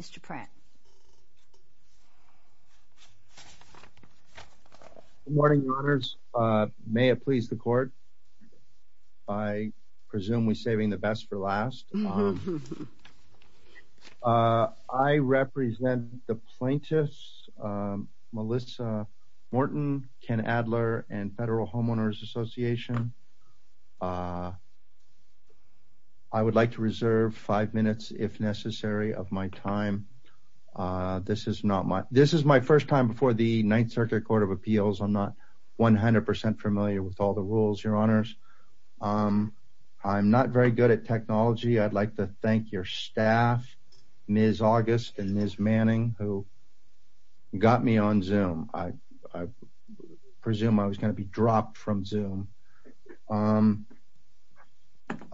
Mr. Pratt. Good morning, Your Honors. May it please the Court. I presume we're saving the best for last. I represent the plaintiffs, Melissa Morton, Ken Adler, and Federal Homeowners Association. I would like to reserve five minutes if necessary of my time. This is my first time before the Ninth Circuit Court of Appeals. I'm not 100% familiar with all the rules, Your Honors. I'm not very good at technology. I'd like to thank your staff, Ms. August and Ms. Manning, who are here on Zoom.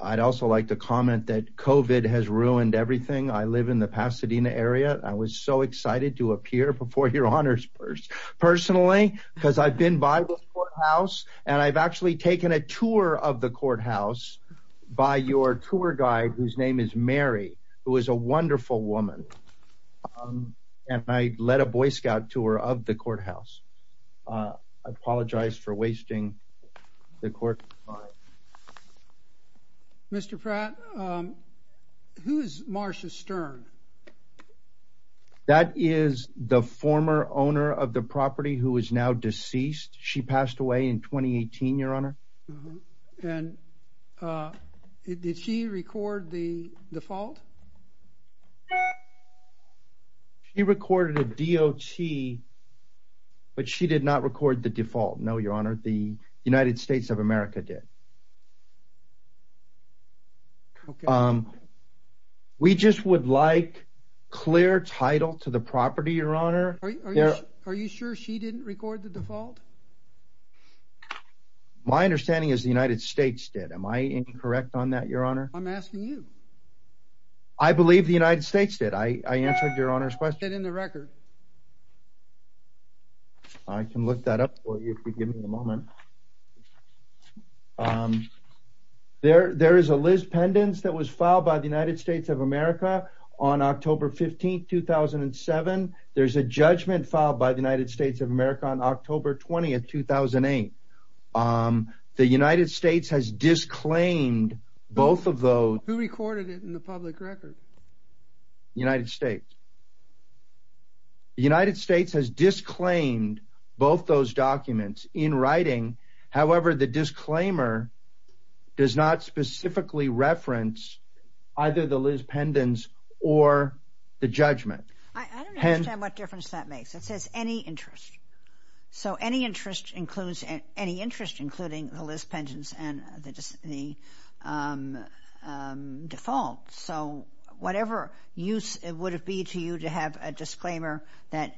I'd also like to comment that COVID has ruined everything. I live in the Pasadena area. I was so excited to appear before Your Honors personally because I've been by the courthouse and I've actually taken a tour of the courthouse by your tour guide whose name is Mary, who is a wonderful woman, and I led a Boy Scout tour of the courthouse. I apologize for wasting the court time. Mr. Pratt, who is Marcia Stern? That is the former owner of the property who is now deceased. She passed away in 2018, Your Honor. And did she record the default? She recorded a DOT, but she did not record the default. No, Your Honor. The United States of America did. We just would like clear title to the property, Your Honor. Are you sure she didn't record the default? My understanding is the United States did. Am I incorrect on that, Your Honor? I'm asking you. I believe the United States did. I answered Your Honor's question. I can look that up for you if you give me a moment. There is a list pendants that was filed by the United States of America on October 15, 2007. There's a judgment filed by the United States of America on October 20, 2008. The United States has disclaimed both of those. Who recorded it in the public record? The United States. The United States has disclaimed both those documents in writing. However, the disclaimer does not specifically reference either the list pendants or the judgment. I don't understand what difference that makes. It says any interest. So any interest includes any interest, including the list pendants and the default. So whatever use it would be to you to have a disclaimer that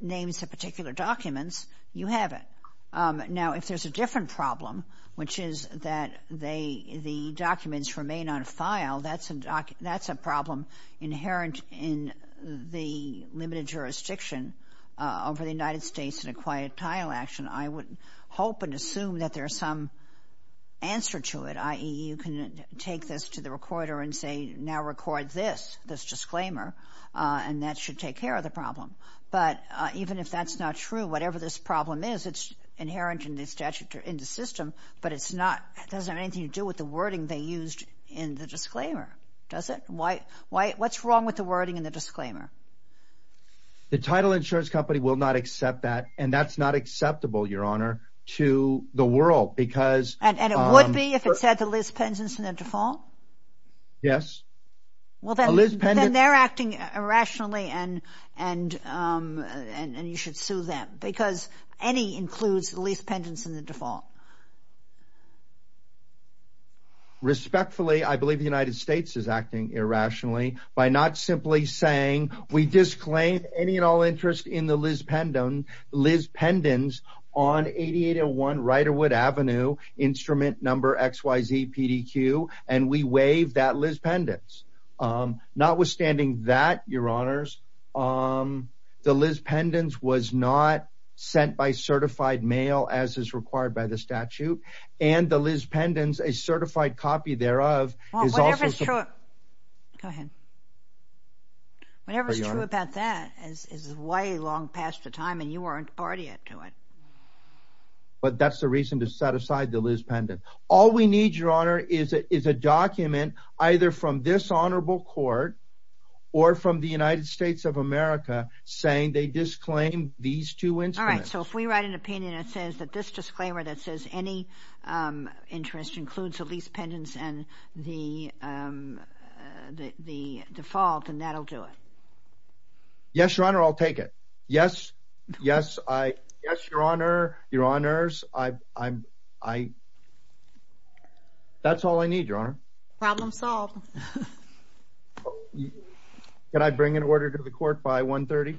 names the particular documents, you have it. Now, if there's a different problem, which is that the documents remain on file, that's a problem inherent in the limited jurisdiction over the United States in a quiet tile action. I would hope and assume that there's some answer to it, i.e., you can take this to the recorder and say, now record this, this disclaimer, and that should take care of the problem. But even if that's not true, whatever this problem is, it's inherent in the statute, in the system, but it's not, it doesn't have anything to do with the wording they used in the disclaimer, does it? What's wrong with the wording in the disclaimer? The title insurance company will not accept that, and that's not acceptable, Your Honor, to the world because... And it would be if it said the list pendants and the default? Yes. Well, then they're acting irrationally and you should sue them because any includes list pendants and the default. Respectfully, I believe the United States is acting irrationally by not simply saying we disclaim any and all interest in the list pendants on 8801 Riderwood Avenue, instrument number XYZ PDQ, and we waive that list pendants. Notwithstanding that, Your Honors, the list pendants was not sent by certified mail as is required by the statute, and the list pendants, a certified copy thereof, is also... Well, whatever's true... Go ahead. Whatever's true about that is way long past the time and you aren't part of it. But that's the reason to set aside the list pendant. All we need, Your Honor, is a document either from this honorable court or from the United States of America saying they disclaim these two instruments. All right. So if we write an opinion that says that this disclaimer that says any interest includes the list pendants and the default, then that'll do it. Yes, Your Honor. I'll take it. Yes. Yes. Yes, Your Honor. Your Honors. I... That's all I need, Your Honor. Problem solved. Can I bring an order to the court by 1.30?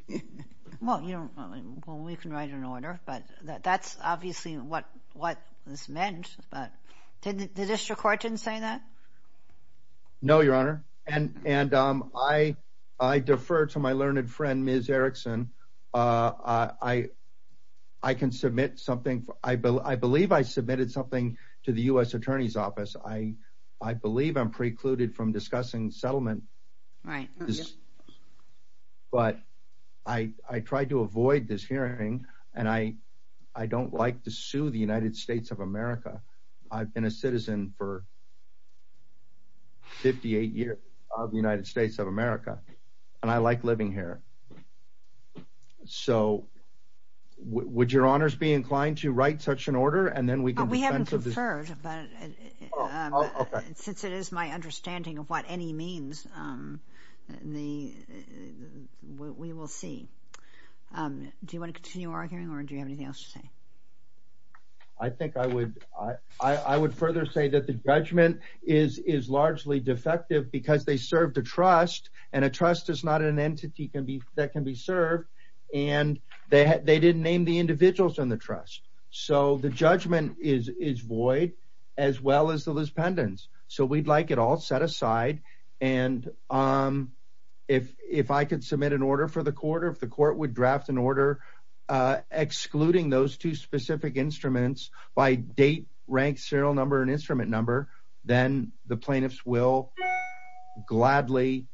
Well, we can write an order, but that's obviously what this meant, but the district court didn't say that? No, Your Honor. And I defer to my learned friend, Ms. Erickson. I can submit something. I believe I submitted something to the U.S. Attorney's Office. I believe I'm precluded from discussing settlement. Right. But I tried to avoid this hearing, and I don't like to sue the United States of America. I've been a citizen for 58 years of the United States of America, and I like living here. Okay. So would Your Honors be inclined to write such an order, and then we can... We haven't conferred, but since it is my understanding of what any means, we will see. Do you want to continue arguing, or do you have anything else to say? I think I would further say that the judgment is largely defective because they serve the trust, and a trust is not an entity that can be served, and they didn't name the individuals in the trust. So the judgment is void, as well as the lispendence. So we'd like it all set aside, and if I could submit an order for the court, or if the court would draft an order excluding those two specific instruments by date, rank, serial number, and instrument number, then the plaintiffs will gladly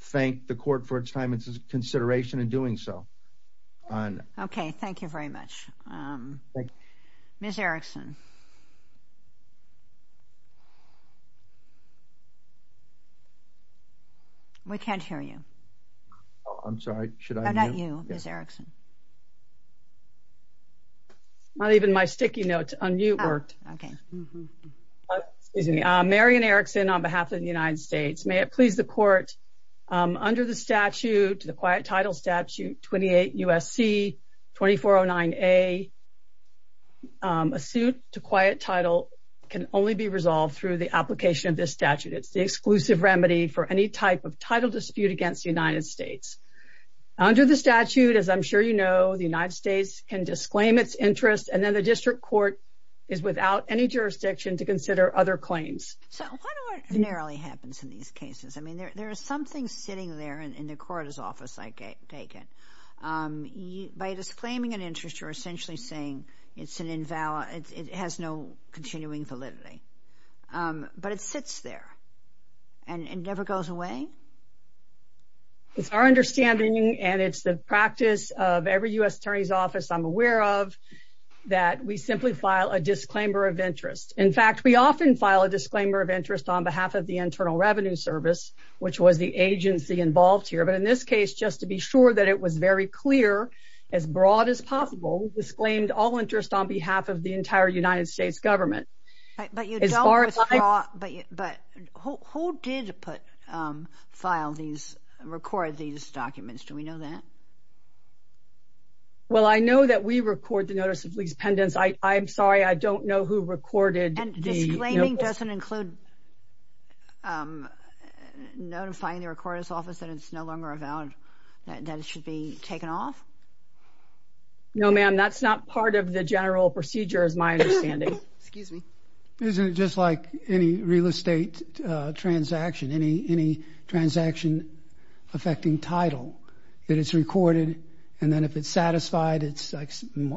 thank the court for its time and consideration in doing so. Okay. Thank you very much. Ms. Erickson. We can't hear you. I'm sorry. Should I... How about you, Ms. Erickson? Not even my sticky notes. Unmute worked. Okay. Mary Ann Erickson on behalf of the United States. May it please the court, under the statute, the Quiet Title Statute 28 U.S.C. 2409A, a suit to quiet title can only be resolved through the application of this statute. It's the exclusive remedy for any type of title dispute against the United States. Under the statute, as I'm sure you know, the United States can disclaim its interest, and then the district court is without any jurisdiction to consider other claims. So, what ordinarily happens in these cases? I mean, there is something sitting there in the court's office, I take it. By disclaiming an interest, you're essentially saying it has no continuing validity. But it sits there, and it never goes away? It's our understanding, and it's the practice of every U.S. attorney's office I'm aware of, that we simply file a disclaimer of interest. In fact, we often file a disclaimer of interest on behalf of the Internal Revenue Service, which was the agency involved here. But in this case, just to be sure that it was very clear, as broad as possible, we disclaimed all interest on behalf of the entire United States government. But who did record these documents? Do we know that? Well, I know that we record the notice of lease pendants. I'm sorry, I don't know who recorded the notice. And disclaiming doesn't include notifying the recorder's office that it's no longer valid, that it should be taken off? No, ma'am, that's not part of the general procedure, is my understanding. Excuse me. Isn't it just like any real estate transaction, any transaction affecting title, that it's recorded, and then if it's satisfied, it's like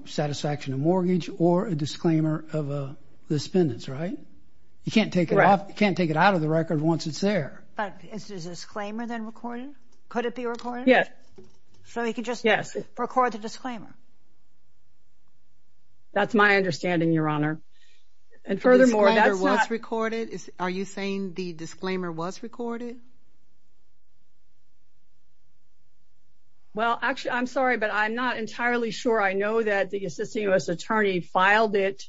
satisfaction of mortgage or a disclaimer of the spendants, right? You can't take it out of the record once it's there. But is the disclaimer then recorded? Could it be recorded? Yes. So you could just record the disclaimer? That's my understanding, Your Honor. And furthermore, that's not... The disclaimer was recorded? Are you saying the disclaimer was recorded? Well, actually, I'm sorry, but I'm not entirely sure. I know that the assisting U.S. attorney filed it.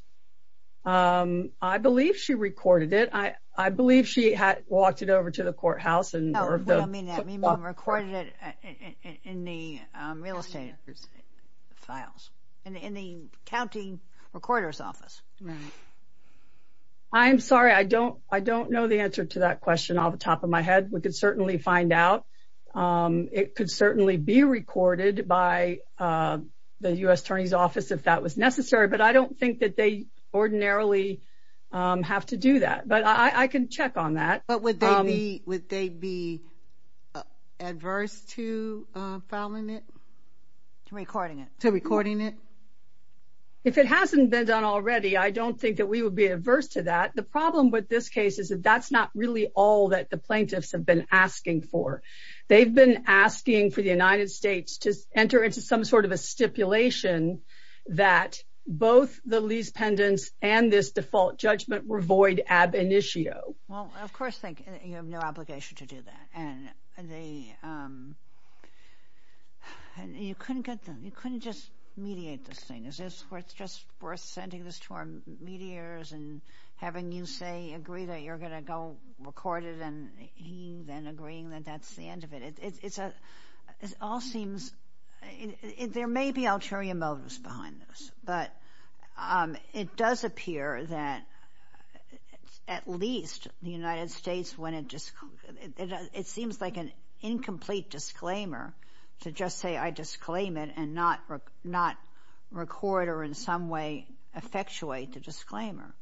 I believe she recorded it. I believe she had walked it over to the courthouse and... No, we don't mean that. Meemaw recorded it in the real estate office. Files. In the accounting recorder's office. I'm sorry, I don't know the answer to that question off the top of my head. We could certainly find out. It could certainly be recorded by the U.S. attorney's office if that was necessary, but I don't think that they ordinarily have to do that. But I can check on that. But would they be adverse to filing it? To recording it? To recording it? If it hasn't been done already, I don't think that we would be adverse to that. The problem with this case is that that's not really all that the plaintiffs have been asking for. They've been asking for the United States to enter into some sort of a stipulation that both the lease pendants and this default judgment were void ab initio. Well, of course, you have no obligation to do that. You couldn't just mediate this thing. Is this just worth sending this to our mediators and having you agree that you're going to go record it and he then agreeing that that's the end of it? There may be ulterior motives behind this, but it does appear that at least the United States, it seems like an incomplete disclaimer to just say I disclaim it and not record or in some way effectuate the disclaimer.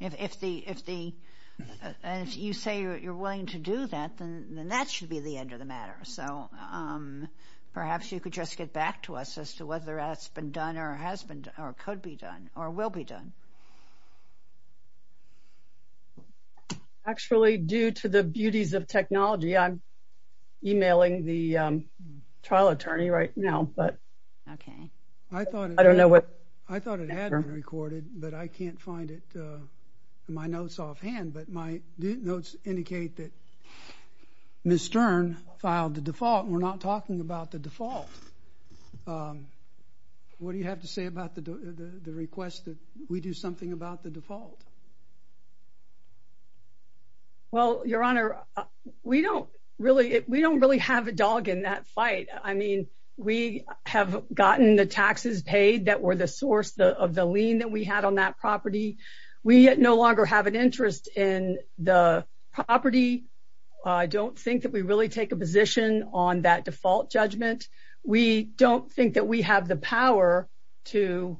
And if you say you're willing to do that, then that should be the end of the matter. So perhaps you could just get back to us as to whether it's been done or could be done or will be done. Actually, due to the beauties of technology, I'm emailing the trial attorney right now, but I don't know what. I thought it had been recorded, but I can't find it. My notes offhand, but my notes indicate that Ms. Stern filed the default. We're not talking about the default. What do you have to say about the request that we do something about the default? Well, Your Honor, we don't really have a dog in that fight. I mean, we have gotten the taxes paid that were the source of the lien that we had on that property. We no longer have an interest in the property. I don't think that we really take a position on that default judgment. We don't think that we have the power to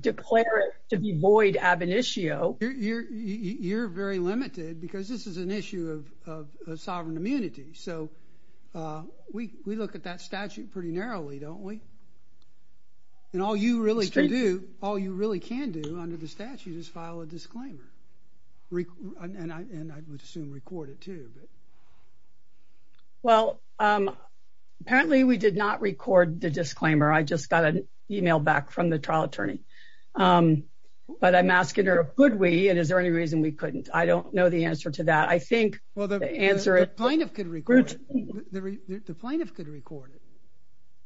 declare it to be void ab initio. You're very limited because this is an issue of sovereign immunity. So we look at that statute pretty narrowly, don't we? All you really can do under the statute is file a disclaimer, and I would assume record it, too. Well, apparently we did not record the disclaimer. I just got an email back from the trial attorney, but I'm asking her, could we, and is there any reason we couldn't? I don't know the answer to that. I think the answer is... Well, the plaintiff could record it. The plaintiff could record it.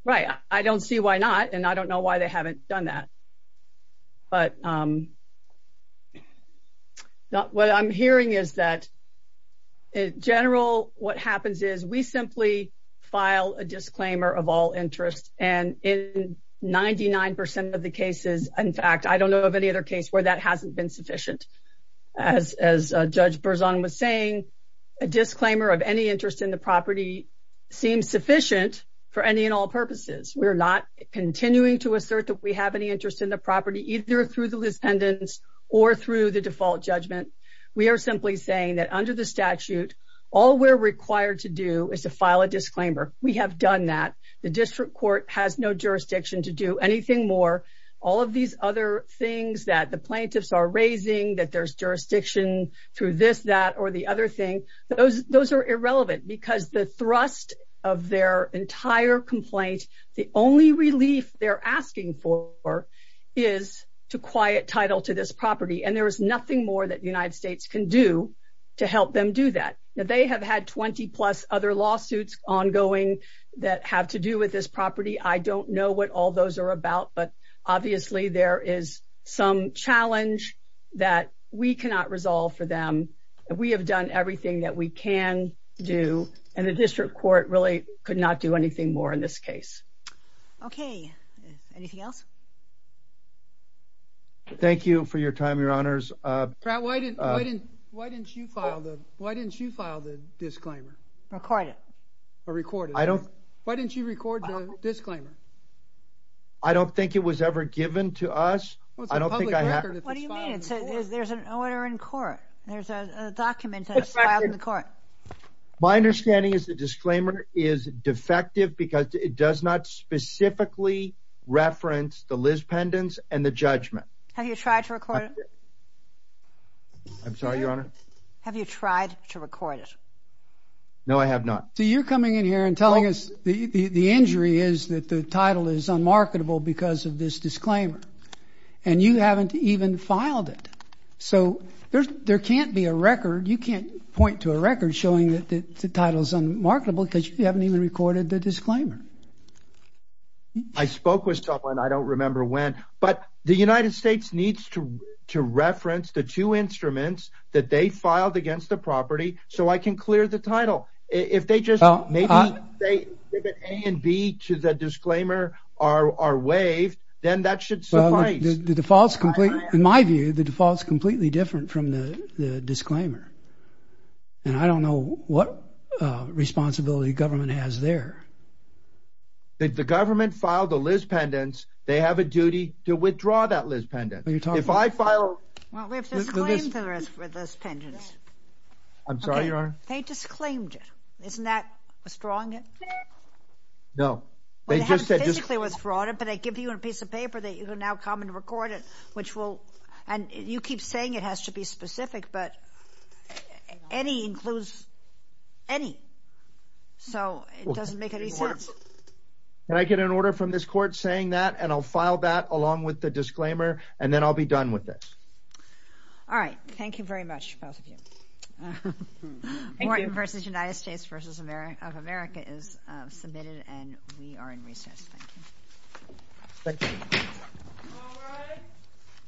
Right. I don't see why not, and I don't know why they haven't done that. But what I'm hearing is that, in general, what happens is we simply file a disclaimer of all interest, and in 99% of the cases, in fact, I don't know of any other case where that hasn't been sufficient. As Judge Berzon was saying, a disclaimer of any interest in the property seems sufficient for any and all purposes. We're not continuing to assert that we have any interest in the property, either through the defendants or through the default judgment. We are simply saying that, under the statute, all we're required to do is to file a disclaimer. We have done that. The district court has no jurisdiction to do anything more. All of these other things that the plaintiffs are raising, that there's jurisdiction through this, that, or the other thing, those are irrelevant because the thrust of their entire complaint, the only relief they're asking for is to quiet title to this property, and there is nothing more that the United States can do to help them do that. They have had 20-plus other lawsuits ongoing that have to do with this that we cannot resolve for them. We have done everything that we can do, and the district court really could not do anything more in this case. Okay. Anything else? Thank you for your time, Your Honors. Why didn't you file the disclaimer? Record it. Why didn't you record the disclaimer? I don't think it was ever given to us. It's a public record. What do you mean? There's an order in court. There's a document that was filed in court. My understanding is the disclaimer is defective because it does not specifically reference the Liz Pendens and the judgment. Have you tried to record it? I'm sorry, Your Honor? Have you tried to record it? No, I have not. So you're coming in here and telling us the injury is that the title is unmarketable because of this and you haven't even filed it. So there can't be a record. You can't point to a record showing that the title is unmarketable because you haven't even recorded the disclaimer. I spoke with someone. I don't remember when. But the United States needs to reference the two instruments that they filed against the property so I can clear the title. If they just say that A and B to the disclaimer are waived, then that should suffice. In my view, the default is completely different from the disclaimer. And I don't know what responsibility the government has there. If the government filed the Liz Pendens, they have a duty to withdraw that Liz Pendens. Well, we have to disclaim the Liz Pendens. I'm sorry, Your Honor? They disclaimed it. Isn't that withdrawing it? No. Well, they haven't physically withdrawn it, but they give you a piece of paper that you can now come and record it, which will... And you keep saying it has to be specific, but any includes any. So it doesn't make any sense. Can I get an order from this court saying that and I'll file that along with the disclaimer and then I'll be done with this. All right. Thank you very much, both of you. Morton v. United States v. of America is submitted and we are in recess. Thank you.